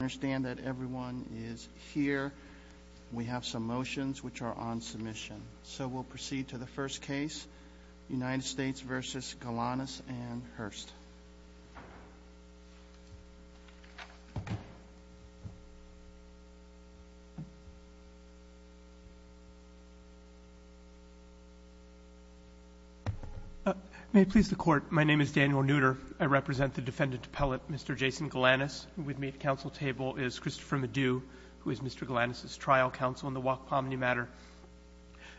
I understand that everyone is here. We have some motions which are on submission. So we'll proceed to the first case, United States v. Galanis and Hurst. May it please the Court, my name is Daniel Nooter. I represent the defendant appellate, Mr. Jason Galanis, and with me at the counsel table is Christopher Meddew, who is Mr. Galanis' trial counsel in the Wack-Pomney matter.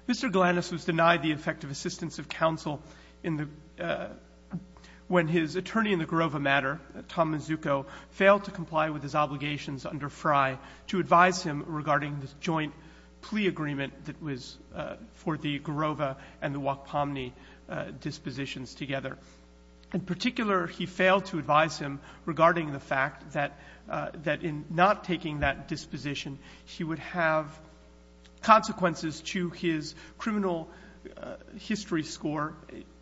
Mr. Galanis was denied the effective assistance of counsel in the — when his attorney in the Garova matter, Tom Mazzucco, failed to comply with his obligations under Frey to advise him regarding the joint plea agreement that was for the Garova and the Wack-Pomney dispositions together. In particular, he failed to advise him regarding the fact that — that in not taking that disposition, he would have consequences to his criminal history score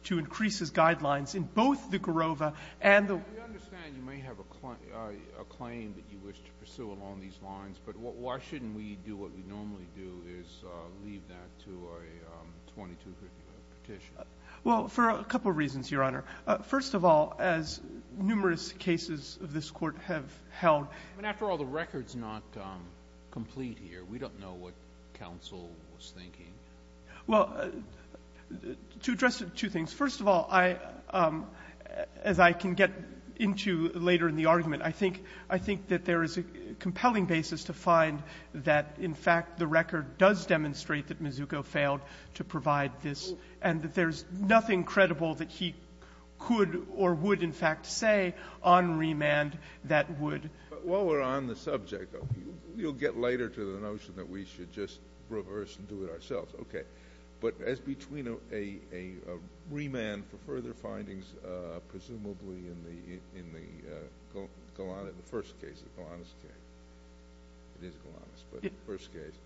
to increase his guidelines in both the Garova and the — We understand you may have a claim that you wish to pursue along these lines. But why shouldn't we do what we normally do, is leave that to a 22-print petition? Well, for a couple of reasons, Your Honor. First of all, as numerous cases of this Court have held — I mean, after all, the record's not complete here. We don't know what counsel was thinking. Well, to address two things. First of all, I — as I can get into later in the argument, I think — I think that there is a compelling basis to find that, in fact, the record does demonstrate that Mazzucco failed to provide this, and that there's nothing credible that he could or would, in fact, say on remand that would — But while we're on the subject, you'll get later to the notion that we should just reverse and do it ourselves. Okay. But as between a — a remand for further findings, presumably in the — in the — in the first case, the Galanis case — it is Galanis, but the first case.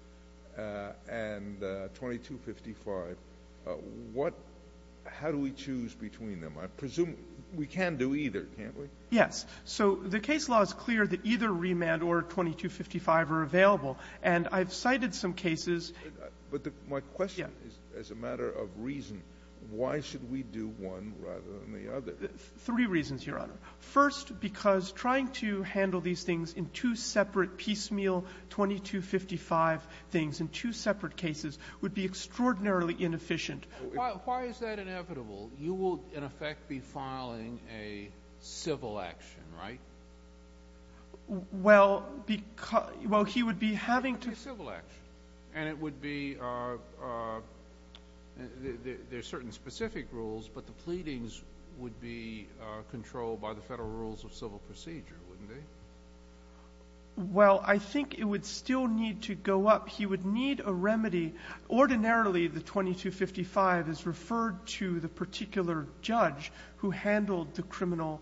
And 2255, what — how do we choose between them? I presume we can do either, can't we? Yes. So the case law is clear that either remand or 2255 are available. And I've cited some cases — But the — my question is, as a matter of reason, why should we do one rather than the other? Three reasons, Your Honor. First, because trying to handle these things in two separate piecemeal 2255 things in two separate cases would be extraordinarily inefficient. Why is that inevitable? You will, in effect, be filing a civil action, right? Well, because — well, he would be having to — A civil action. And it would be — there's certain specific rules, but the pleadings would be controlled by the federal rules of civil procedure, wouldn't they? Well, I think it would still need to go up. He would need a remedy. Ordinarily, the 2255 is referred to the particular judge who handled the criminal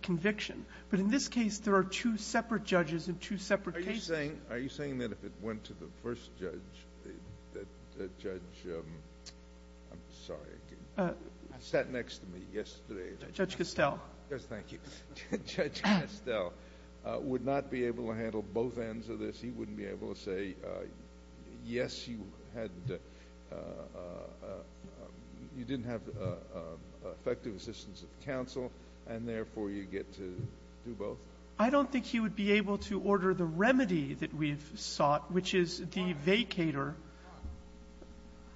conviction. But in this case, there are two separate judges in two separate cases. Are you saying — are you saying that if it went to the first judge, that the judge — I'm sorry. I sat next to me yesterday. Judge Castell. Yes, thank you. Judge Castell would not be able to handle both ends of this? He wouldn't be able to say, yes, you had — you didn't have effective assistance of counsel, and therefore, you get to do both? I don't think he would be able to order the remedy that we've sought, which is the vacator.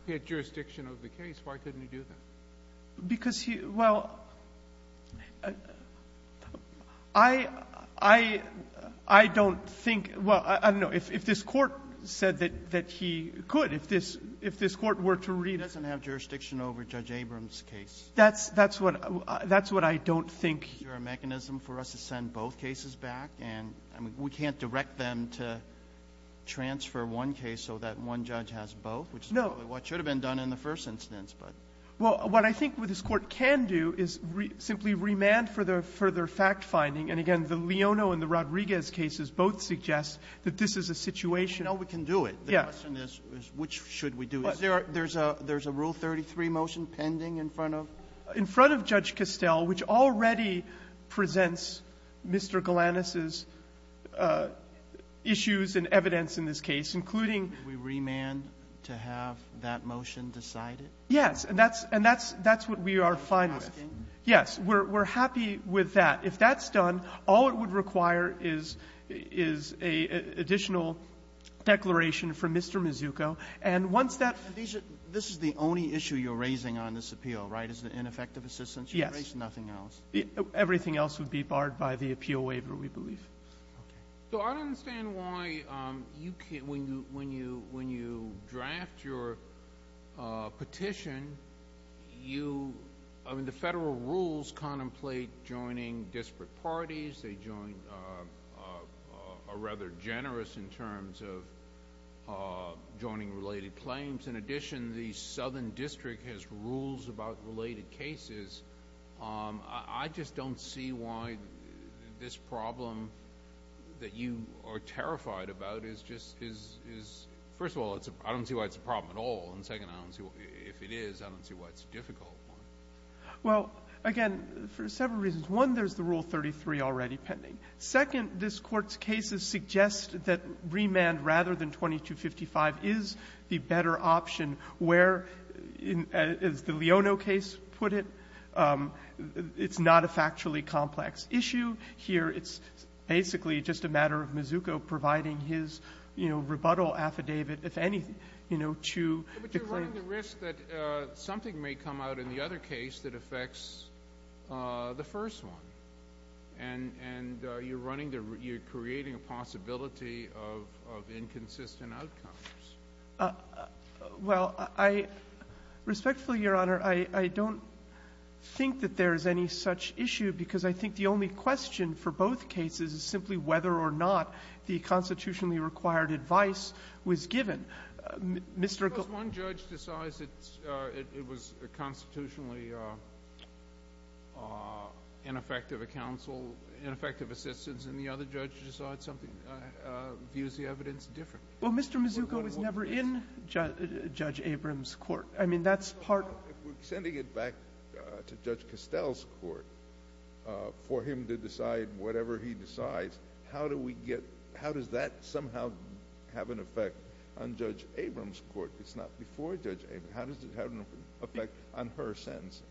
He had jurisdiction over the case. Why couldn't he do that? Because he — well, I — I don't think — well, I don't know. If this Court said that he could, if this Court were to read it. He doesn't have jurisdiction over Judge Abrams' case. That's what I don't think. Is there a mechanism for us to send both cases back? And we can't direct them to transfer one case so that one judge has both, which is probably what should have been done in the first instance. Well, what I think what this Court can do is simply remand for the further fact finding, and again, the Leono and the Rodriguez cases both suggest that this is a situation — No, we can do it. Yeah. The question is, which should we do? Is there — there's a — there's a Rule 33 motion pending in front of — In front of Judge Castell, which already presents Mr. Galanis' issues and evidence in this case, including — Can we remand to have that motion decided? Yes, and that's — and that's — that's what we are fine with. Are you asking? Yes. We're — we're happy with that. If that's done, all it would require is — is an additional declaration from Mr. Mazzucco. And once that — This is the only issue you're raising on this appeal, right, is the ineffective assistance? Yes. You raised nothing else. Everything else would be barred by the appeal waiver, we believe. Okay. So I don't understand why you can't — when you — when you draft your petition, you — I mean, the federal rules contemplate joining disparate parties. They join — are rather generous in terms of joining related claims. In addition, the Southern District has rules about related cases. I just don't see why this problem that you are terrified about is just — is — is — first of all, it's a — I don't see why it's a problem at all. And second, I don't see — if it is, I don't see why it's difficult. Well, again, for several reasons. One, there's the Rule 33 already pending. Second, this Court's cases suggest that remand rather than 2255 is the better option where, as the Leono case put it, it's not a factually complex issue. Here, it's basically just a matter of Mazzucco providing his, you know, rebuttal affidavit, if any, you know, to — But you're running the risk that something may come out in the other case that affects the first one. And you're running the — you're creating a possibility of inconsistent outcomes. Well, I — respectfully, Your Honor, I — I don't think that there is any such issue because I think the only question for both cases is simply whether or not the constitutionally required advice was given. Mr. — Because one judge decides it's — it was constitutionally ineffective counsel — ineffective assistance, and the other judge decides something — views the evidence differently. Well, Mr. Mazzucco is never in Judge Abrams' court. I mean, that's part — We're sending it back to Judge Castell's court for him to decide whatever he decides. How do we get — how does that somehow have an effect on Judge Abrams' court? It's not before Judge Abrams. How does it have an effect on her sentence?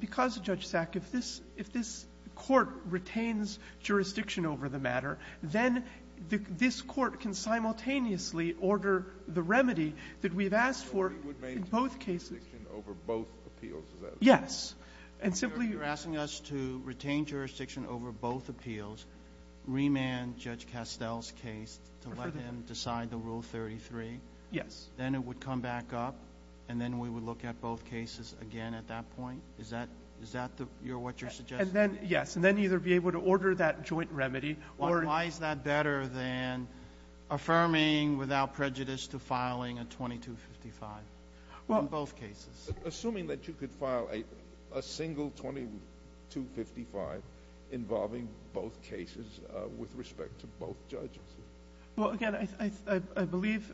Because, Judge Sack, if this — if this court retains jurisdiction over the matter, then this court can simultaneously order the remedy that we've asked for in both cases. So we would maintain jurisdiction over both appeals? Yes. And simply — So you're asking us to retain jurisdiction over both appeals, remand Judge Castell's case to let him decide the Rule 33? Yes. Then it would come back up, and then we would look at both cases again at that point? Is that — is that the — what you're suggesting? And then — yes. And then either be able to order that joint remedy or — Why is that better than affirming without prejudice to filing a 2255 in both cases? Assuming that you could file a single 2255 involving both cases with respect to both judges. Well, again, I believe,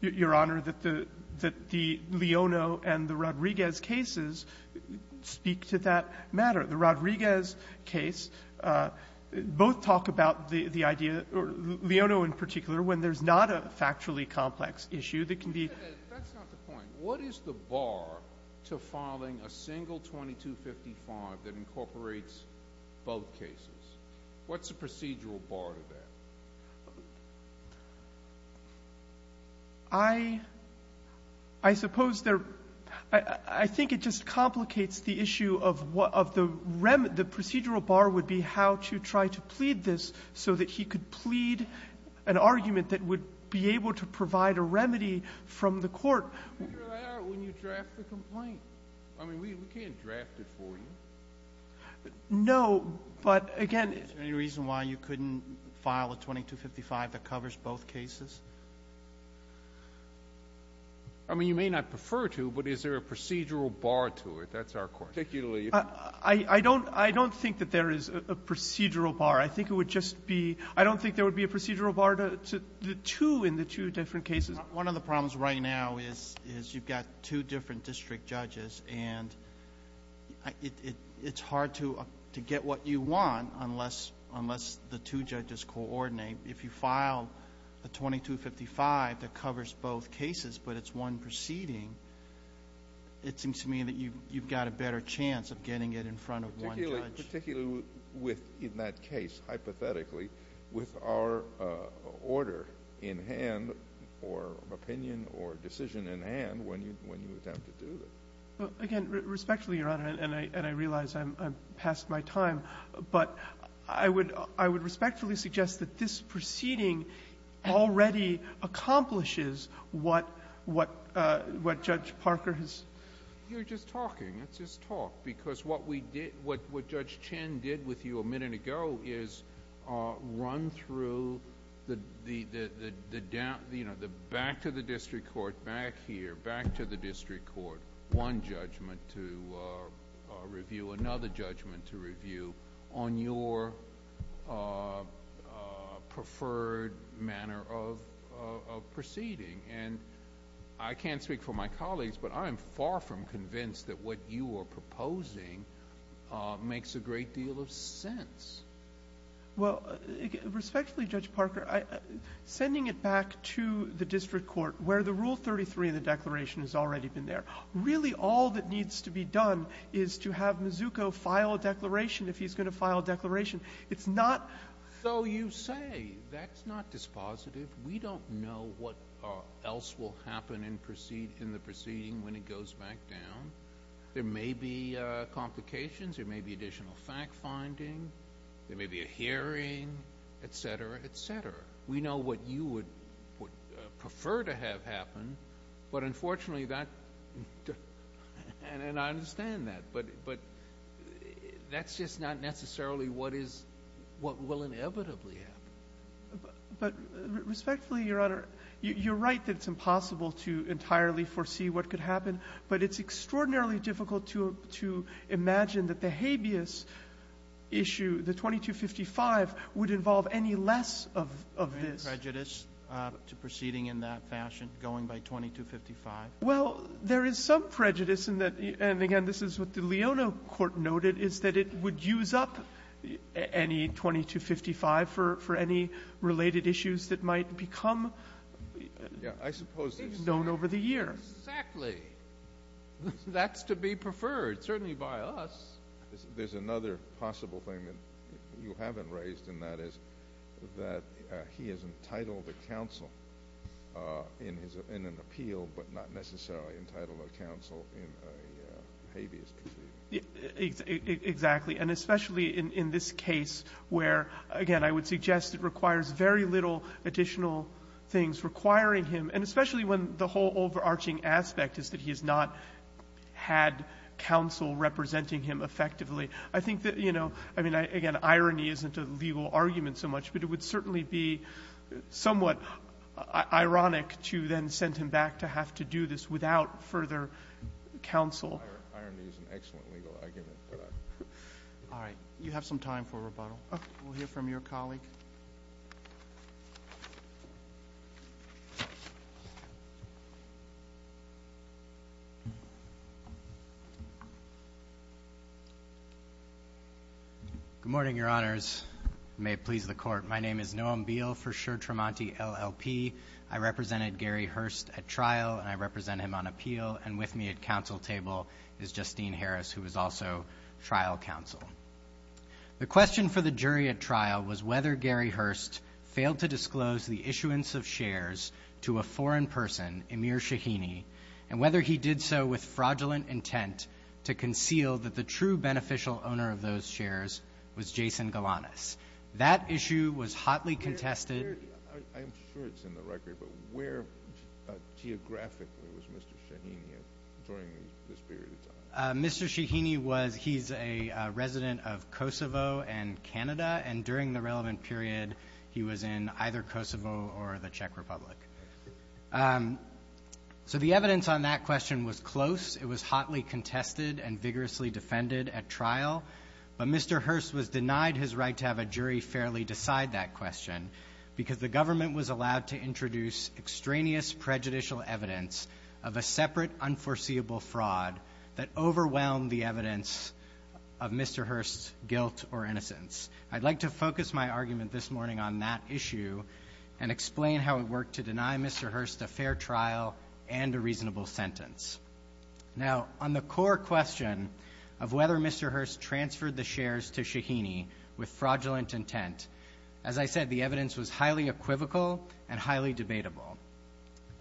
Your Honor, that the — that the Leono and the Rodriguez cases speak to that matter. The Rodriguez case, both talk about the idea — Leono in particular, when there's not a factually complex issue that can be — That's not the point. What is the bar to filing a single 2255 that incorporates both cases? What's the procedural bar to that? I — I suppose there — I think it just complicates the issue of what — of the remedy. The procedural bar would be how to try to plead this so that he could plead an argument that would be able to provide a remedy from the court. You figure that out when you draft the complaint. I mean, we can't draft it for you. No, but, again — Is there any reason why you couldn't file a 2255 that covers both cases? I mean, you may not prefer to, but is there a procedural bar to it? That's our question. I don't — I don't think that there is a procedural bar. I think it would just be — I don't think there would be a procedural bar to the two in the two different cases. One of the problems right now is — is you've got two different district judges, and it's hard to get what you want unless — unless the two judges coordinate. If you file a 2255 that covers both cases but it's one proceeding, it seems to me that you've got a better chance of getting it in front of one judge. Particularly with — in that case, hypothetically, with our order in hand or opinion or decision in hand when you attempt to do it. Again, respectfully, Your Honor, and I realize I'm past my time, but I would respectfully suggest that this proceeding already accomplishes what Judge Parker has — You're just talking. It's just talk, because what we did — what Judge Chin did with you a minute ago is run through the — you know, back to the district court, back here, back to the district court, one judgment to review, another judgment to review on your preferred manner of proceeding. And I can't speak for my colleagues, but I am far from convinced that what you are proposing makes a great deal of sense. Well, respectfully, Judge Parker, sending it back to the district court, where the Rule 33 in the declaration has already been there, really all that needs to be done is to have Mazzucco file a declaration if he's going to file a declaration. It's not — So you say, that's not dispositive. We don't know what else will happen in the proceeding when it goes back down. There may be complications. There may be additional fact-finding. There may be a hearing, et cetera, et cetera. We know what you would prefer to have happen, but unfortunately, that — and I understand that, but that's just not necessarily what is — what will inevitably happen. But respectfully, Your Honor, you're right that it's impossible to entirely foresee what could happen, but it's extraordinarily difficult to imagine that the habeas issue, the 2255, would involve any less of this. Any prejudice to proceeding in that fashion, going by 2255? Well, there is some prejudice in that — and again, this is what the Leona court noted, is that it would use up any 2255 for any related issues that might become known over the year. Exactly. That's to be preferred, certainly by us. There's another possible thing that you haven't raised, and that is that he is entitled to counsel in an appeal, but not necessarily entitled to counsel in a habeas proceeding. Exactly. And especially in this case where, again, I would suggest it requires very little additional things requiring him, and especially when the whole overarching aspect is that he has not had counsel representing him effectively. I think that, you know — I mean, again, irony isn't a legal argument so much, but it would certainly be somewhat ironic to then send him back to have to do this without further counsel. Irony is an excellent legal argument. All right. You have some time for rebuttal. We'll hear from your colleague. Good morning, Your Honors. May it please the Court. My name is Noam Beal for Sher Tramonti, LLP. I represented Gary Hurst at trial, and I represent him on appeal. And with me at counsel table is Justine Harris, who is also trial counsel. The question for the jury at trial was whether Gary Hurst failed to disclose the issuance of shares to a foreign person, Emir Shahini, and whether he did so with fraudulent intent to conceal that the true beneficial owner of those shares was Jason Galanis. That issue was hotly contested. I'm sure it's in the record, but where geographically was Mr. Shahini during this period of time? Mr. Shahini was — he's a resident of Kosovo and Canada. And during the relevant period, he was in either Kosovo or the Czech Republic. So the evidence on that question was close. It was hotly contested and vigorously defended at trial. But Mr. Hurst was denied his right to have a jury fairly decide that question, because the government was allowed to introduce extraneous prejudicial evidence of a separate, unforeseeable fraud that overwhelmed the evidence of Mr. Hurst's guilt or innocence. I'd like to focus my argument this morning on that issue and explain how it worked to deny Mr. Hurst a fair trial and a reasonable sentence. Now, on the core question of whether Mr. Hurst transferred the shares to Shahini with fraudulent intent, as I said, the evidence was highly equivocal and highly debatable.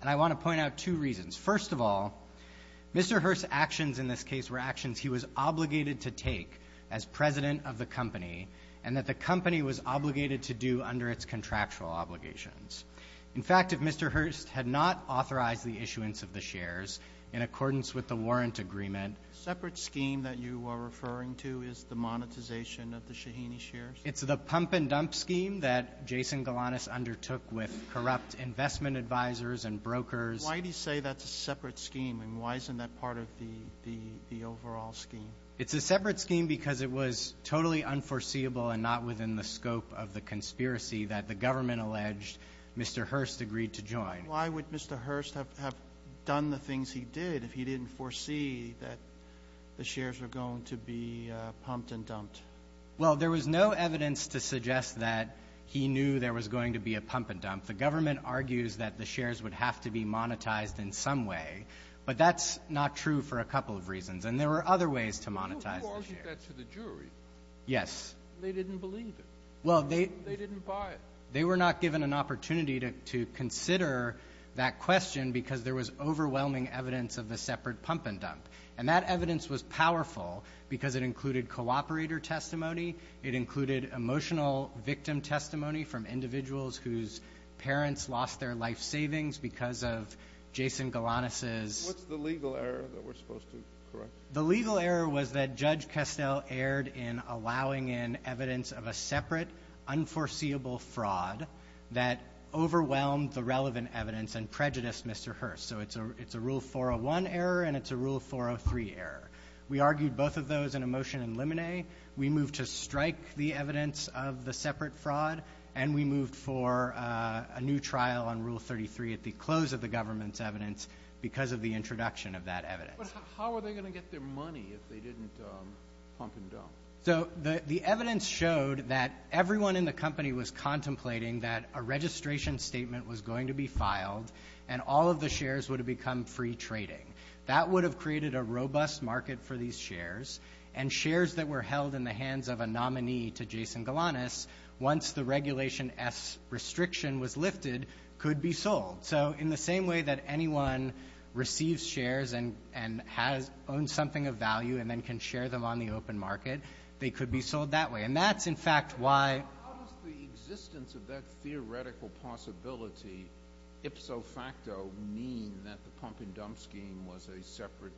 And I want to point out two reasons. First of all, Mr. Hurst's actions in this case were actions he was obligated to take as president of the company and that the company was obligated to do under its contractual obligations. In fact, if Mr. Hurst had not authorized the issuance of the shares in accordance with the warrant agreement — A separate scheme that you are referring to is the monetization of the Shahini shares? It's the pump-and-dump scheme that Jason Galanis undertook with corrupt investment advisors and brokers. Why do you say that's a separate scheme, and why isn't that part of the overall scheme? It's a separate scheme because it was totally unforeseeable and not within the scope of the conspiracy that the government alleged Mr. Hurst agreed to join. Why would Mr. Hurst have done the things he did if he didn't foresee that the shares were going to be pumped and dumped? Well, there was no evidence to suggest that he knew there was going to be a pump-and-dump. The government argues that the shares would have to be monetized in some way, but that's not true for a couple of reasons. And there were other ways to monetize the shares. Who argued that to the jury? Yes. They didn't believe it. Well, they — They didn't buy it. They were not given an opportunity to consider that question because there was overwhelming evidence of a separate pump-and-dump. And that evidence was powerful because it included cooperator testimony. It included emotional victim testimony from individuals whose parents lost their life savings because of Jason Galanis's — What's the legal error that we're supposed to correct? The legal error was that Judge Kestel erred in allowing in evidence of a separate, unforeseeable fraud that overwhelmed the relevant evidence and prejudiced Mr. Hurst. So it's a Rule 401 error and it's a Rule 403 error. We argued both of those in a motion in Limine. We moved to strike the evidence of the separate fraud. And we moved for a new trial on Rule 33 at the close of the government's evidence because of the introduction of that evidence. But how were they going to get their money if they didn't pump and dump? So the evidence showed that everyone in the company was contemplating that a registration statement was going to be filed and all of the shares would have become free trading. That would have created a robust market for these shares. And shares that were held in the hands of a nominee to Jason Galanis, once the Regulation S restriction was lifted, could be sold. So in the same way that anyone receives shares and has — owns something of value and then can share them on the open market, they could be sold that way. And that's, in fact, why — How does the existence of that theoretical possibility, ipso facto, mean that the pump-and-dump scheme was a separate,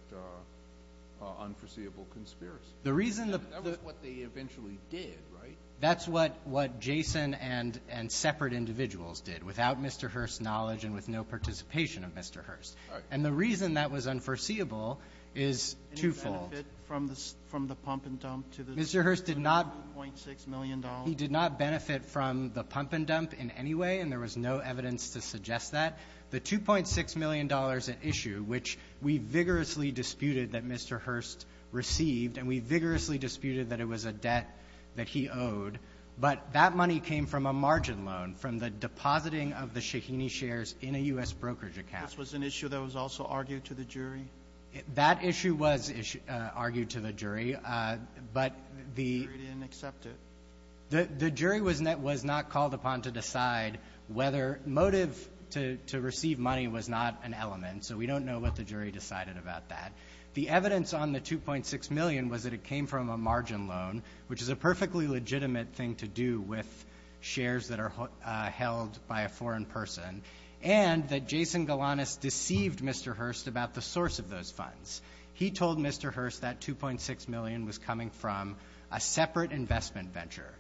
unforeseeable conspiracy? The reason the — That was what they eventually did, right? That's what — what Jason and — and separate individuals did, without Mr. Hurst's knowledge and with no participation of Mr. Hurst. Right. And the reason that was unforeseeable is twofold. Any benefit from the — from the pump-and-dump to the — Mr. Hurst did not — $2.6 million. He did not benefit from the pump-and-dump in any way, and there was no evidence to suggest that. The $2.6 million issue, which we vigorously disputed that Mr. Hurst received, and we vigorously disputed that it was a debt that he owed, but that money came from a margin loan, from the depositing of the Shaheeni shares in a U.S. brokerage account. This was an issue that was also argued to the jury? That issue was argued to the jury, but the — The jury didn't accept it. The jury was not called upon to decide whether — motive to receive money was not an element, so we don't know what the jury decided about that. The evidence on the $2.6 million was that it came from a margin loan, which is a perfectly legitimate thing to do with shares that are held by a foreign person, and that Jason Galanis deceived Mr. Hurst about the source of those funds. He told Mr. Hurst that $2.6 million was coming from a separate investment venture,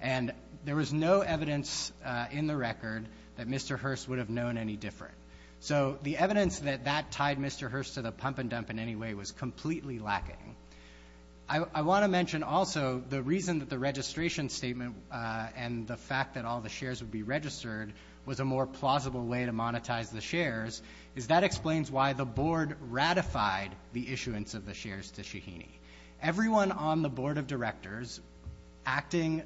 and there was no evidence in the record that Mr. Hurst would have known any different. So the evidence that that tied Mr. Hurst to the pump-and-dump in any way was completely lacking. I want to mention also the reason that the registration statement and the fact that all the shares would be registered was a more plausible way to monetize the shares is that explains why the board ratified the issuance of the shares to Shaheeny. Everyone on the board of directors acting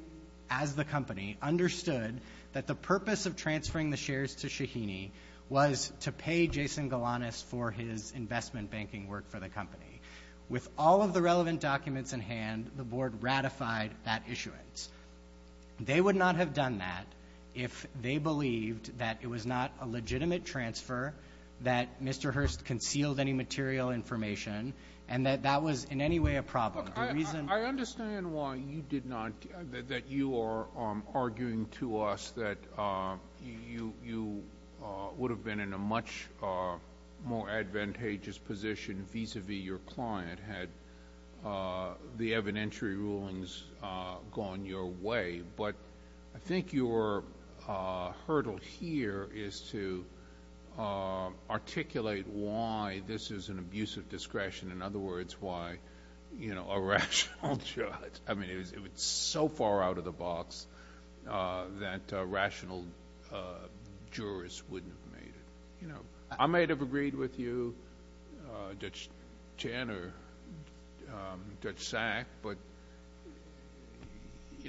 as the company understood that the purpose of transferring the shares to Shaheeny was to pay Jason Galanis for his investment banking work for the company. With all of the relevant documents in hand, the board ratified that issuance. They would not have done that if they believed that it was not a legitimate transfer that Mr. Hurst concealed any material information and that that was in any way a problem. The reason... I understand why you did not, that you are arguing to us that you would have been in a much more advantageous position vis-à-vis your client had the evidentiary rulings gone your way. But I think your hurdle here is to articulate why this is an abuse of discretion. In other words, why a rational judge... I mean, it's so far out of the box that a rational jurist wouldn't have made it. I might have agreed with you, Judge Chan or Judge Sack, but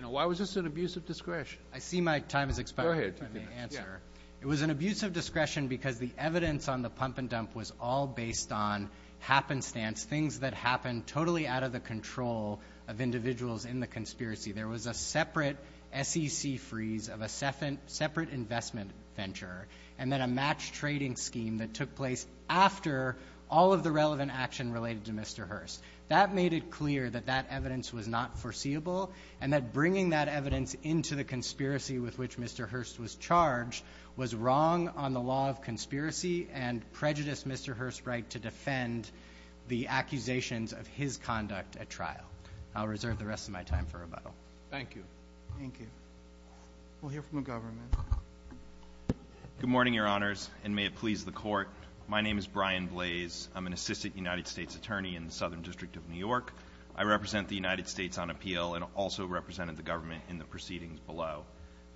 why was this an abuse of discretion? I see my time is expiring. Go ahead. It was an abuse of discretion because the evidence on the pump and dump was all based on happenstance, things that happened totally out of the control of individuals in the conspiracy. There was a separate SEC freeze of a separate investment venture and then a match trading scheme that took place after all of the relevant action related to Mr. Hurst. That made it clear that that evidence was not foreseeable and that bringing that evidence into the conspiracy with which Mr. Hurst was charged was wrong on the law of conspiracy and prejudiced Mr. Hurst's right to defend the accusations of his conduct at trial. I'll reserve the rest of my time for rebuttal. Thank you. Thank you. We'll hear from the government. Good morning, Your Honors, and may it please the Court. My name is Brian Blaze. I'm an assistant United States attorney in the Southern District of New York. I represent the United States on appeal and also represented the government in the proceedings below.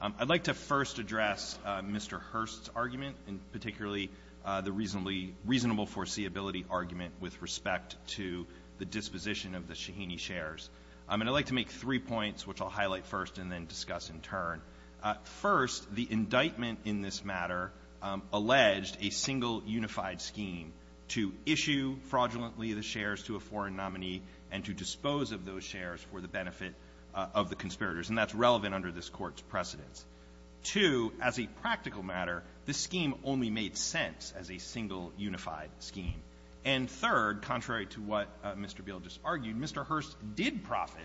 I'd like to first address Mr. Hurst's argument, and particularly the reasonable foreseeability argument with respect to the disposition of the Shaheeny shares. And I'd like to make three points, which I'll highlight first and then discuss in turn. First, the indictment in this matter alleged a single unified scheme to issue fraudulently the shares to a foreign nominee and to dispose of those shares for the benefit of the conspirators. And that's relevant under this Court's precedence. Two, as a practical matter, this scheme only made sense as a single unified scheme. And third, contrary to what Mr. Beal just argued, Mr. Hurst did profit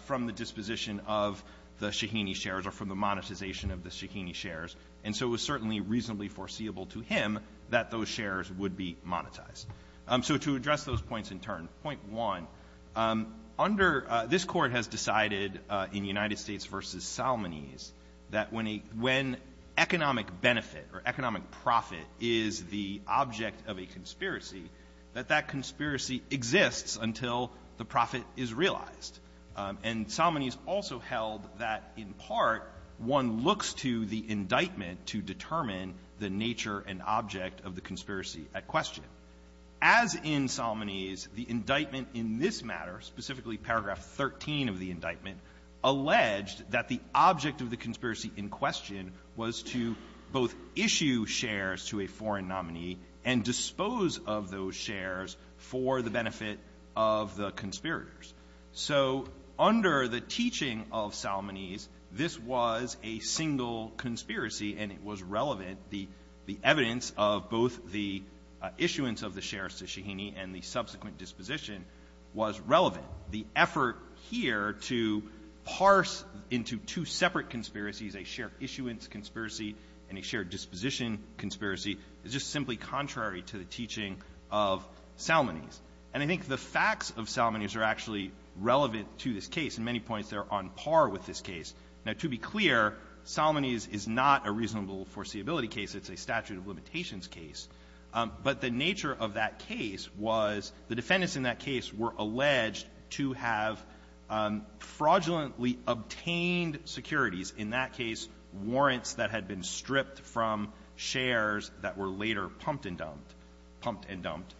from the disposition of the Shaheeny shares or from the monetization of the Shaheeny shares. And so it was certainly reasonably foreseeable to him that those shares would be monetized. So to address those points in turn, point one, under — this Court has decided in United States v. Salmonese that when a — when economic benefit or economic profit is the object of a conspiracy, that that conspiracy exists until the profit is realized. And Salmonese also held that, in part, one looks to the indictment to determine the nature and object of the conspiracy at question. As in Salmonese, the indictment in this matter, specifically paragraph 13 of the indictment, alleged that the object of the conspiracy in question was to both issue shares to a foreign nominee and dispose of those shares for the benefit of the conspirators. So under the teaching of Salmonese, this was a single conspiracy and it was relevant. The evidence of both the issuance of the shares to Shaheeny and the subsequent disposition was relevant. The effort here to parse into two separate conspiracies, a share issuance conspiracy and a share disposition conspiracy, is just simply contrary to the teaching of Salmonese. And I think the facts of Salmonese are actually relevant to this case. In many points, they're on par with this case. Now, to be clear, Salmonese is not a reasonable foreseeability case. It's a statute of limitations case. But the nature of that case was the defendants in that case were alleged to have fraudulently obtained securities, in that case warrants that had been stripped from shares that were later pumped and dumped, pumped and dumped.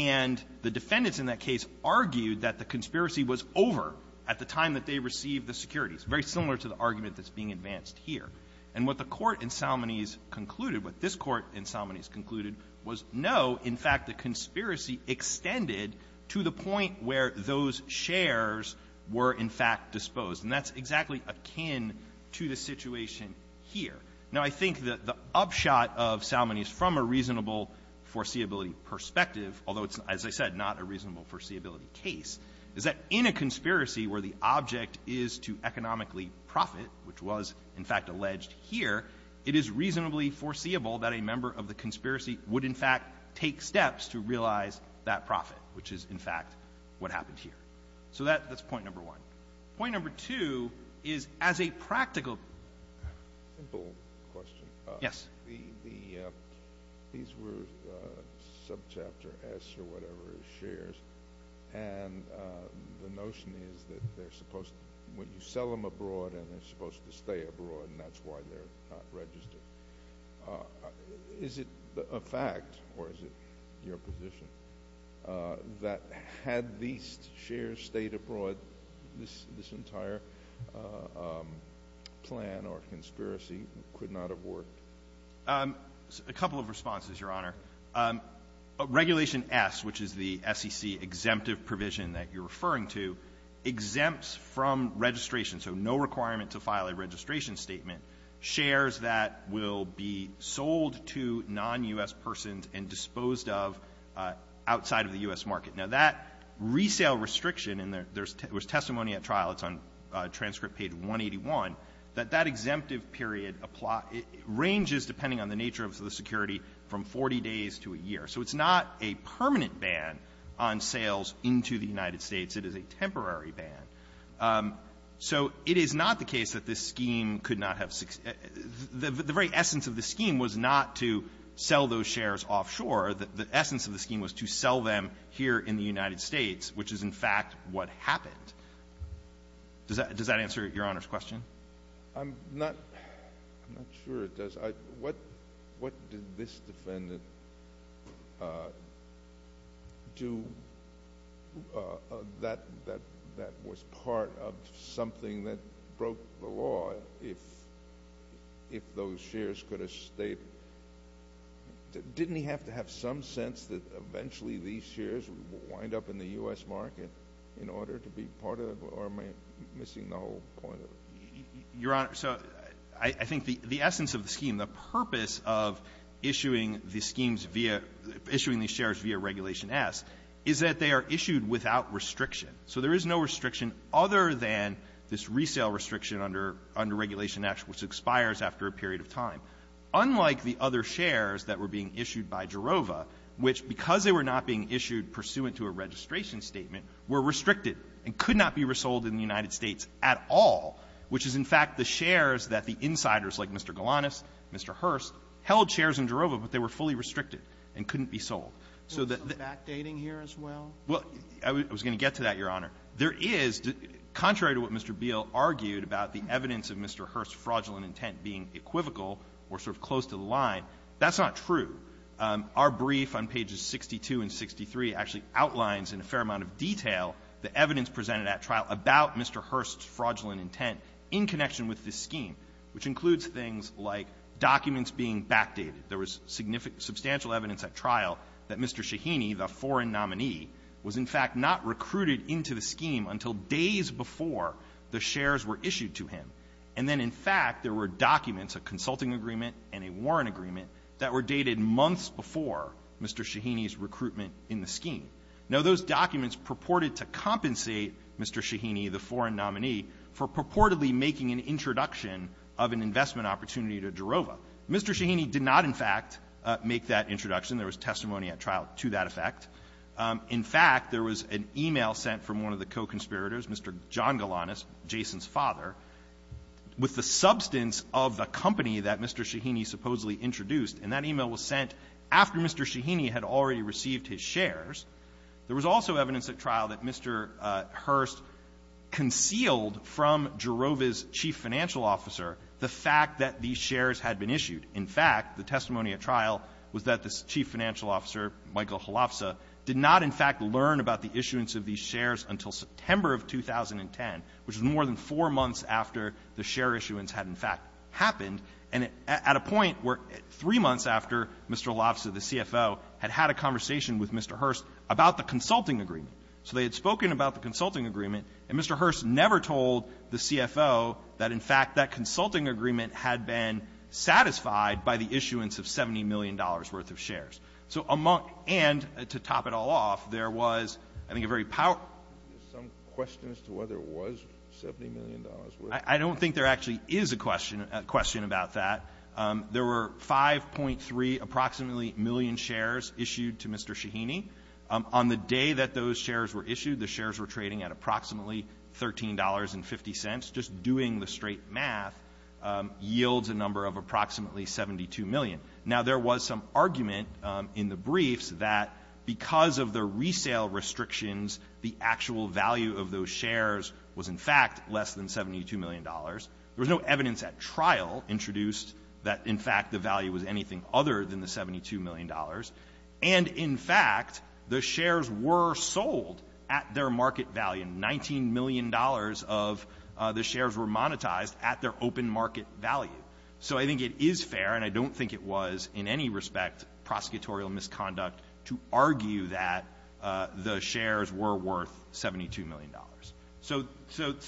And the defendants in that case argued that the conspiracy was over at the time that they received the securities, very similar to the argument that's being advanced here. And what the Court in Salmonese concluded, what this Court in Salmonese concluded, was, no, in fact, the conspiracy extended to the point where those shares were, in fact, disposed, and that's exactly akin to the situation here. Now, I think that the upshot of Salmonese from a reasonable foreseeability perspective, although it's, as I said, not a reasonable foreseeability case, is that in a conspiracy where the object is to economically profit, which was, in fact, alleged here, it is reasonably foreseeable that a member of the conspiracy would, in fact, take steps to realize that profit, which is, in fact, what happened here. So that's point number one. Point number two is, as a practical— Simple question. Yes. These were subchapter S or whatever shares, and the notion is that they're supposed— when you sell them abroad, and they're supposed to stay abroad, and that's why they're not registered. Is it a fact, or is it your position, that had these shares stayed abroad, this entire plan or conspiracy could not have worked? A couple of responses, Your Honor. Regulation S, which is the SEC-exemptive provision that you're referring to, exempts from registration, so no requirement to file a registration statement, shares that will be sold to non-U.S. persons and disposed of outside of the U.S. market. Now, that resale restriction, and there's testimony at trial, it's on transcript page 181, that that exemptive period ranges, depending on the nature of the security, from 40 days to a year. So it's not a permanent ban on sales into the United States. It is a temporary ban. So it is not the case that this scheme could not have — the very essence of this scheme was not to sell those shares offshore. The essence of the scheme was to sell them here in the United States, which is, in fact, what happened. Does that answer Your Honor's question? I'm not sure it does. What did this defendant do that was part of something that broke the law, if those shares could have stayed? Didn't he have to have some sense that eventually these shares would wind up in the U.S. market in order to be part of it, or am I missing the whole point of it? Your Honor, so I think the essence of the scheme, the purpose of issuing the schemes via — issuing these shares via Regulation S is that they are issued without restriction. So there is no restriction other than this resale restriction under — under Regulation S, which expires after a period of time, unlike the other shares that were being issued by Jarova, which, because they were not being issued pursuant to a registration statement, were restricted and could not be resold in the United States at all, which is, in fact, the shares that the insiders, like Mr. Galanis, Mr. Hearst, held shares in Jarova, but they were fully restricted and couldn't be sold. So the — Is there some backdating here as well? Well, I was going to get to that, Your Honor. There is, contrary to what Mr. Beal argued about the evidence of Mr. Hearst's fraudulent intent being equivocal or sort of close to the line, that's not true. Our brief on pages 62 and 63 actually outlines in a fair amount of detail the evidence presented at trial about Mr. Hearst's fraudulent intent in connection with this scheme, which includes things like documents being backdated. There was significant — substantial evidence at trial that Mr. Shaheeni, the foreign nominee, was, in fact, not recruited into the scheme until days before the shares were issued to him. And then, in fact, there were documents, a consulting agreement and a warrant agreement, that were dated months before Mr. Shaheeni's recruitment in the scheme. Now, those documents purported to compensate Mr. Shaheeni, the foreign nominee, for purportedly making an introduction of an investment opportunity to Jarova. Mr. Shaheeni did not, in fact, make that introduction. There was testimony at trial to that effect. In fact, there was an e-mail sent from one of the co-conspirators, Mr. John Galanis, Jason's father, with the substance of the company that Mr. Shaheeni supposedly introduced. And that e-mail was sent after Mr. Shaheeni had already received his shares. There was also evidence at trial that Mr. Hearst concealed from Jarova's chief financial officer the fact that these shares had been issued. In fact, the testimony at trial was that the chief financial officer, Michael Holofza, did not, in fact, learn about the issuance of these shares until September of 2010, which was more than four months after the share issuance had, in fact, happened, and at a point where three months after Mr. Holofza, the CFO, had had a conversation with Mr. Hearst about the consulting agreement. So they had spoken about the consulting agreement, and Mr. Hearst never told the CFO that, in fact, that consulting agreement had been satisfied by the issuance of $70 million. And to top it all off, there was, I think, a very powerful question as to whether it was $70 million. I don't think there actually is a question about that. There were 5.3 approximately million shares issued to Mr. Shaheeni. On the day that those shares were issued, the shares were trading at approximately $13.50. Just doing the straight math yields a number of approximately 72 million. Now, there was some briefs that, because of the resale restrictions, the actual value of those shares was, in fact, less than $72 million. There was no evidence at trial introduced that, in fact, the value was anything other than the $72 million. And, in fact, the shares were sold at their market value. $19 million of the shares were monetized at their open market value. So I think it is fair, and I don't think it was, in any way equivocal in its conduct, to argue that the shares were worth $72 million. So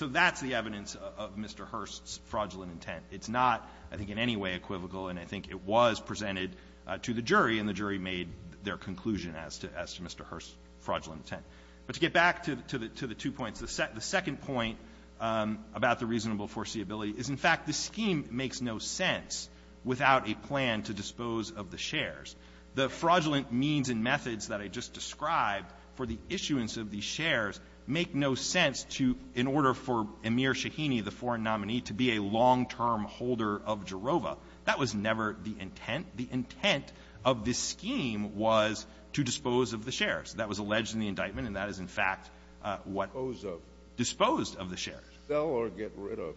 that's the evidence of Mr. Hearst's fraudulent intent. It's not, I think, in any way equivocal, and I think it was presented to the jury, and the jury made their conclusion as to Mr. Hearst's fraudulent intent. But to get back to the two points, the second point about the reasonable foreseeability is, in fact, the scheme makes no sense without a plan to dispose of the shares. The fraudulent means and methods that I just described for the issuance of the shares make no sense to, in order for Amir Shaheeni, the foreign nominee, to be a long-term holder of Jarova. That was never the intent. The intent of this scheme was to dispose of the shares. That was alleged in the indictment, and that is, in fact, what the ---- Kennedy, disposed of the shares. Sell or get rid of?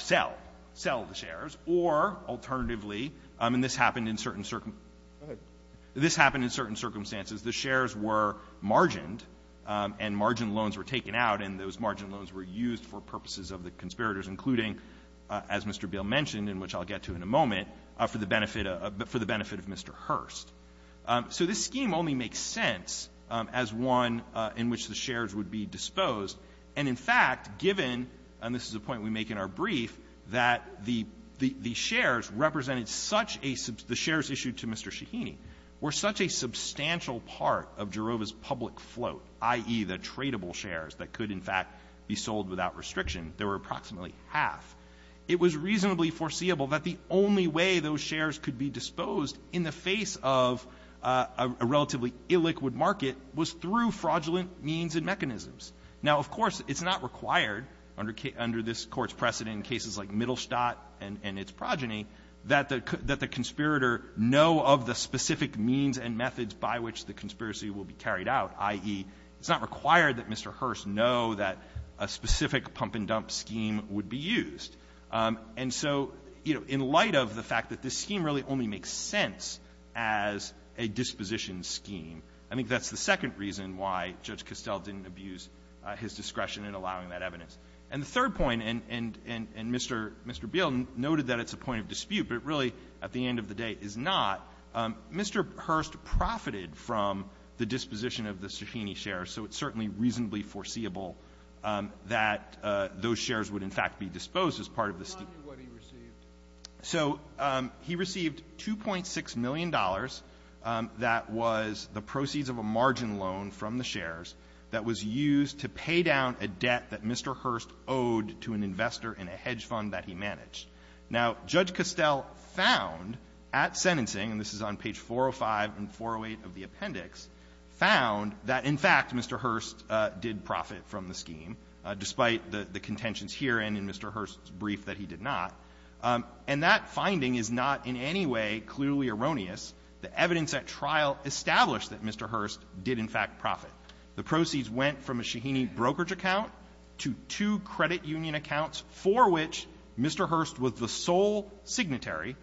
Sell. Sell the shares. Or, alternatively, and this happened in certain circumstances the shares were margined, and margined loans were taken out, and those margined loans were used for purposes of the conspirators, including, as Mr. Beall mentioned, and which I'll get to in a moment, for the benefit of Mr. Hearst. So this scheme only makes sense as one in which the shares would be disposed. And, in fact, given and this is a point we make in our brief, that the shares represented such a ---- the shares issued to Mr. Shaheeni were such a substantial part of Jarova's public float, i.e., the tradable shares that could, in fact, be sold without restriction, there were approximately half, it was reasonably foreseeable that the only way those shares could be disposed in the face of a relatively illiquid market was through under this Court's precedent in cases like Mittelstadt and its progeny, that the conspirator know of the specific means and methods by which the conspiracy will be carried out, i.e., it's not required that Mr. Hearst know that a specific pump-and-dump scheme would be used. And so, you know, in light of the fact that this scheme really only makes sense as a disposition scheme, I think that's the second reason why Judge Castell didn't abuse his discretion in allowing that evidence. And the third point, and Mr. Beall noted that it's a point of dispute, but it really, at the end of the day, is not, Mr. Hearst profited from the disposition of the Shaheeni shares, so it's certainly reasonably foreseeable that those shares would, in fact, be disposed as part of the scheme. So he received $2.6 million that was the proceeds of a margin loan from the shares that was used to pay down a debt that Mr. Hearst owed to an investor in a hedge fund that he managed. Now, Judge Castell found at sentencing and this is on page 405 and 408 of the appendix, found that, in fact, Mr. Hearst did profit from the scheme, despite the contentions here and in Mr. Hearst's brief that he did not. And that finding is not in any way clearly erroneous. The evidence at trial established that Mr. Hearst did, in fact, profit. The proceeds went from a Shaheeni brokerage account to two credit union accounts for which Mr. Hearst was the sole signatory,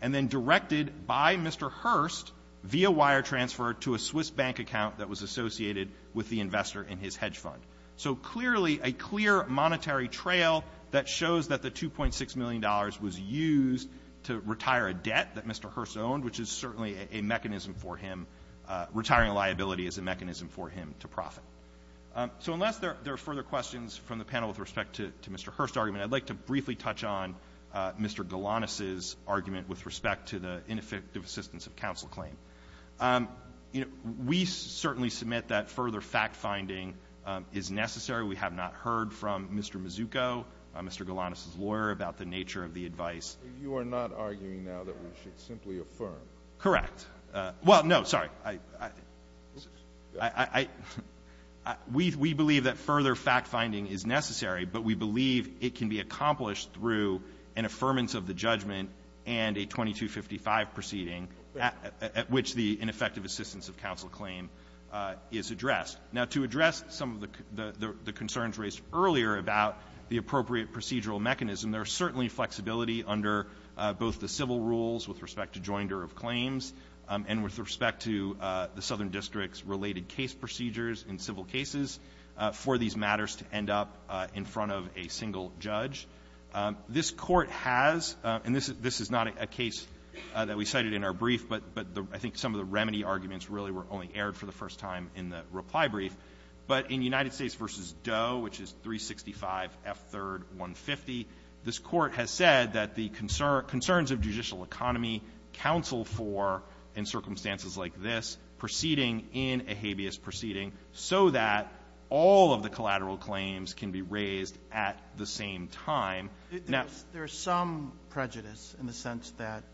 and then directed by Mr. Hearst via wire transfer to a Swiss bank account that was associated with the investor in his hedge fund. So clearly, a clear monetary trail that shows that the $2.6 million was used to retire a debt that Mr. Hearst owned, which is certainly a mechanism for him. Retiring a liability is a mechanism for him to profit. So unless there are further questions from the panel with respect to Mr. Hearst's argument, I'd like to briefly touch on Mr. Galanis' argument with respect to the ineffective assistance of counsel claim. We certainly submit that further fact-finding is necessary. We have not heard from Mr. Mazzucco, Mr. Galanis' lawyer, about the nature of the claim so that we should simply affirm. Correct. Well, no, sorry. I — we believe that further fact-finding is necessary, but we believe it can be accomplished through an affirmance of the judgment and a 2255 proceeding at which the ineffective assistance of counsel claim is addressed. Now, to address some of the concerns raised earlier about the appropriate procedural mechanism, there is certainly flexibility under both the civil rules with respect to joinder of claims and with respect to the Southern District's related case procedures in civil cases for these matters to end up in front of a single judge. This Court has — and this is not a case that we cited in our brief, but I think some of the remedy arguments really were only aired for the first time in the reply brief. But in United States v. Doe, which is 365 F. 3rd. 150, this Court has said that the concerns of judicial economy counsel for, in circumstances like this, proceeding in a habeas proceeding so that all of the collateral claims can be raised at the same time. Now — There is some prejudice in the sense that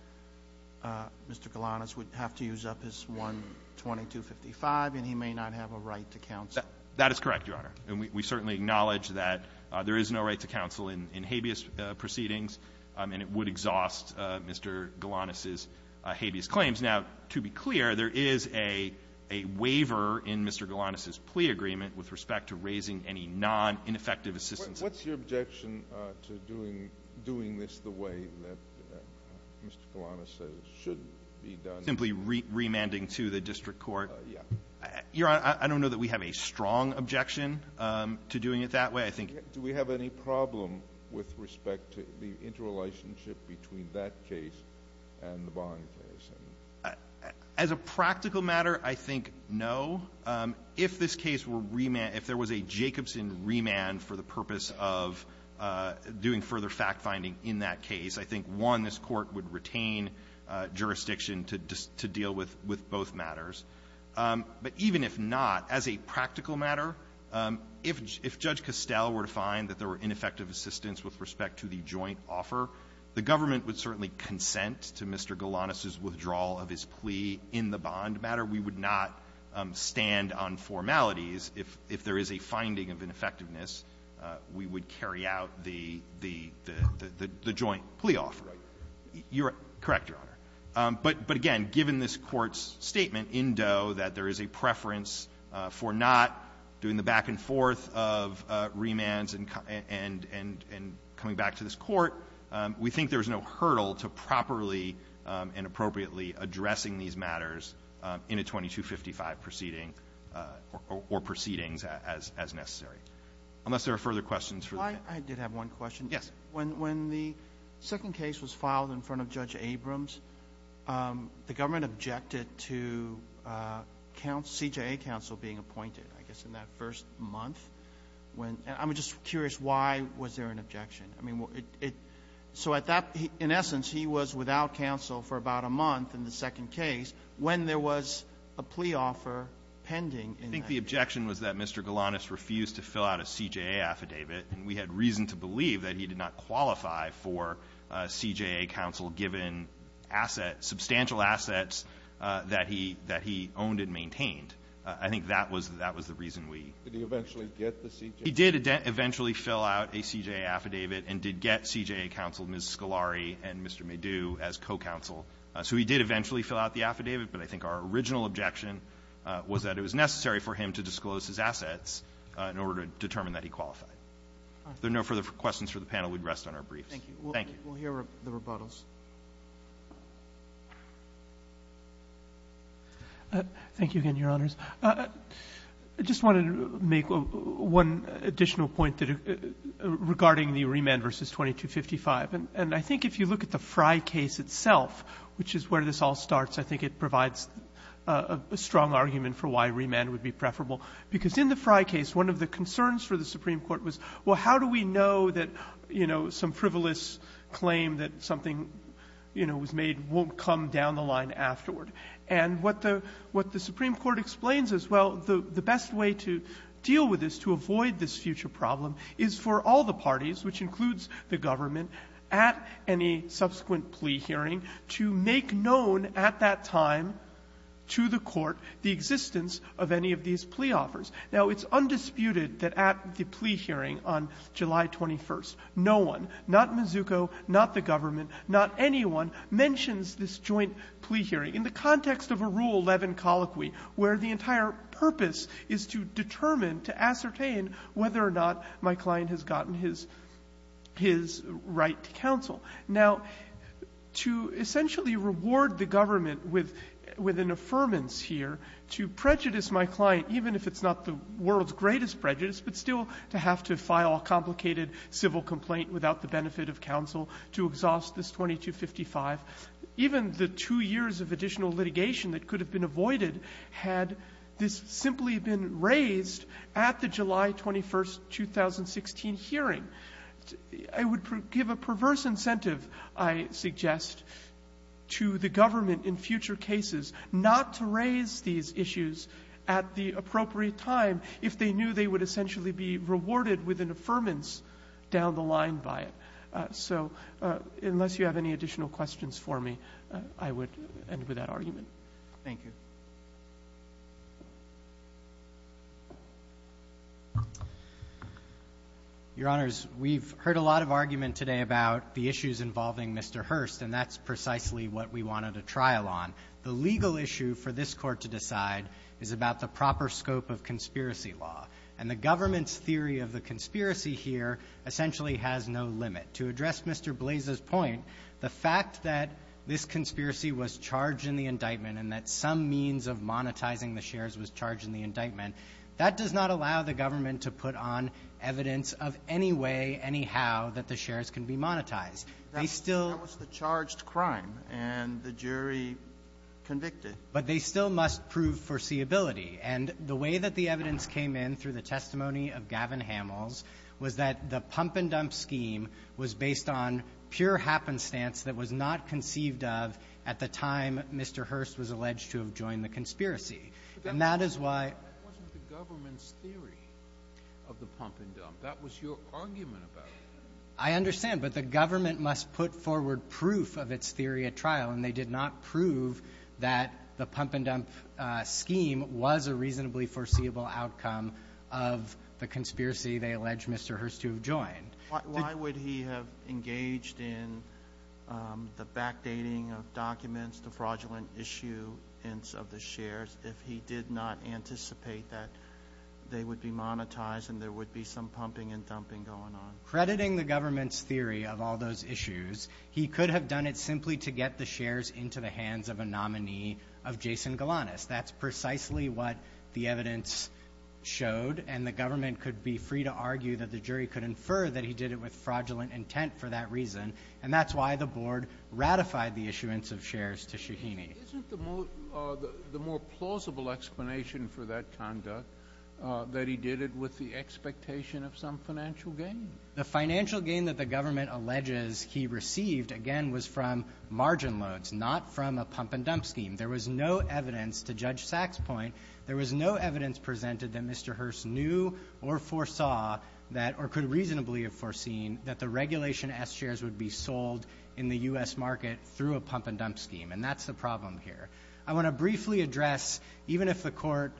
Mr. Galanis would have to use up his 12255, and he may not have a right to counsel. That is correct, Your Honor. And we certainly acknowledge that there is no right to counsel in habeas proceedings, and it would exhaust Mr. Galanis's habeas claims. Now, to be clear, there is a waiver in Mr. Galanis's plea agreement with respect to raising any non-ineffective assistance. What's your objection to doing this the way that Mr. Galanis says should be done? Simply remanding to the district court. Yes. Your Honor, I don't know that we have a strong objection to doing it that way. I think — Do we have any problem with respect to the interrelationship between that case and the Bond case? As a practical matter, I think no. If this case were remanded, if there was a Jacobson remand for the purpose of doing further fact-finding in that case, I think, one, this Court would retain jurisdiction to deal with both matters. But even if not, as a practical matter, if Judge Costell were to find that there were ineffective assistance with respect to the joint offer, the government would certainly consent to Mr. Galanis's withdrawal of his plea in the Bond matter. We would not stand on formalities if there is a finding of ineffectiveness, we would carry out the joint plea offer. Right. You're correct, Your Honor. But again, given this Court's statement in Doe that there is a preference for not doing the back-and-forth of remands and coming back to this Court, we think there is no hurdle to properly and appropriately addressing these matters in a 2255 proceeding or proceedings as necessary, unless there are further questions for the panel. I did have one question. Yes. When the second case was filed in front of Judge Abrams, the government objected to CJA counsel being appointed, I guess, in that first month. I'm just curious, why was there an objection? I mean, so at that — in essence, he was without counsel for about a month in the second case when there was a plea offer pending in that case. I think the objection was that Mr. Galanis refused to fill out a CJA affidavit, and we had reason to believe that he did not qualify for CJA counsel given assets, substantial assets that he — that he owned and maintained. I think that was — that was the reason we — Did he eventually get the CJA? He did eventually fill out a CJA affidavit and did get CJA counsel, Ms. Scolari and Mr. Medue, as co-counsel. So he did eventually fill out the affidavit, but I think our original objection was that it was necessary for him to disclose his assets in order to determine that he qualified. If there are no further questions for the panel, we'd rest on our briefs. Thank you. Thank you. We'll hear the rebuttals. Thank you again, Your Honors. I just wanted to make one additional point that — regarding the remand versus 2255. And I think if you look at the Frye case itself, which is where this all starts, I think it provides a strong argument for why remand would be preferable. Because in the Frye case, one of the concerns for the Supreme Court was, well, how do we know that, you know, some frivolous claim that something, you know, was made won't come down the line afterward? And what the — what the Supreme Court explains is, well, the best way to deal with this, to avoid this future problem, is for all the parties, which includes the government, at any subsequent plea hearing, to make known at that time to the Court the existence of any of these plea offers. Now, it's undisputed that at the plea hearing on July 21st, no one, not Mazzucco, not the government, not anyone, mentions this joint plea hearing in the context of a Rule 11 colloquy, where the entire purpose is to determine, to ascertain whether or not my client has gotten his — his right to counsel. Now, to essentially reward the government with — with an affirmance here, to prejudice my client, even if it's not the world's greatest prejudice, but still to have to file a complicated civil complaint without the benefit of counsel, to exhaust this 2255, even the two years of additional litigation that could have been avoided had this simply been raised at the July 21st, 2016, hearing, I would give a perverse incentive, I suggest, to the government in future cases not to raise these issues at the appropriate time if they knew they would essentially be rewarded with an affirmance down the line by it. So unless you have any additional questions for me, I would end with that argument. Thank you. Thank you. Your Honors, we've heard a lot of argument today about the issues involving Mr. Hurst, and that's precisely what we wanted a trial on. The legal issue for this Court to decide is about the proper scope of conspiracy law, and the government's theory of the conspiracy here essentially has no limit. To address Mr. Blais' point, the fact that this conspiracy was charged in the indictment and that some means of monetizing the shares was charged in the indictment, that does not allow the government to put on evidence of any way, any how, that the shares can be monetized. They still — That was the charged crime, and the jury convicted. But they still must prove foreseeability. And the way that the evidence came in through the testimony of Gavin Hamels was that the pump-and-dump scheme was based on pure happenstance that was not conceived of at the time Mr. Hurst was alleged to have joined the conspiracy. And that is why — But that wasn't the government's theory of the pump-and-dump. That was your argument about it. I understand. But the government must put forward proof of its theory at trial, and they did not prove that the pump-and-dump scheme was a reasonably foreseeable outcome of the conspiracy they allege Mr. Hurst to have joined. Why would he have engaged in the backdating of documents, the fraudulent issue of the shares, if he did not anticipate that they would be monetized and there would be some pumping-and-dumping going on? Crediting the government's theory of all those issues, he could have done it simply to get the shares into the hands of a nominee of Jason Galanis. That's precisely what the evidence showed. And the government could be free to argue that the jury could infer that he did it with fraudulent intent for that reason, and that's why the board ratified the issuance of shares to Shaheeny. Isn't the more plausible explanation for that conduct that he did it with the expectation of some financial gain? The financial gain that the government alleges he received, again, was from margin loads, not from a pump-and-dump scheme. There was no evidence, to Judge Sack's point, there was no evidence presented that Mr. Hurst knew or foresaw that, or could reasonably have foreseen, that the regulation S shares would be sold in the U.S. market through a pump-and-dump scheme, and that's the problem here. I want to briefly address, even if the court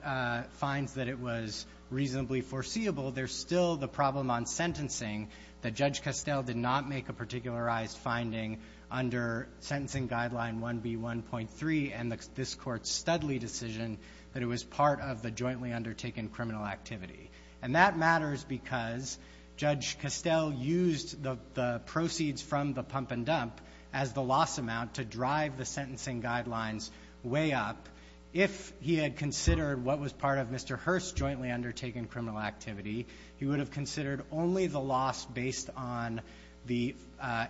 finds that it was reasonably foreseeable, there's still the problem on sentencing that Judge Costell did not make a particularized finding under Sentencing Guideline 1B1.3 and this Court's Studley decision that it was part of the jointly undertaken criminal activity. And that matters because Judge Costell used the proceeds from the pump-and-dump as the loss amount to drive the sentencing guidelines way up. If he had considered what was part of Mr. Hurst's jointly undertaken criminal activity, he would have considered only the loss based on the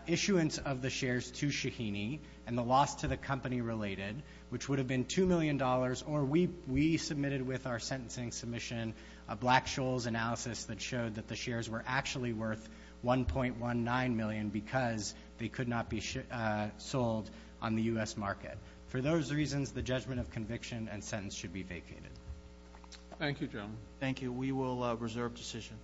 issuance of the shares to Shaheeni and the loss to the company related, which would have been $2 million, or we submitted with our sentencing submission a Black-Scholes analysis that showed that the shares were actually worth $1.19 million because they could not be sold on the U.S. market. For those reasons, the judgment of conviction and sentence should be vacated. Thank you, gentlemen. Thank you. We will reserve decision.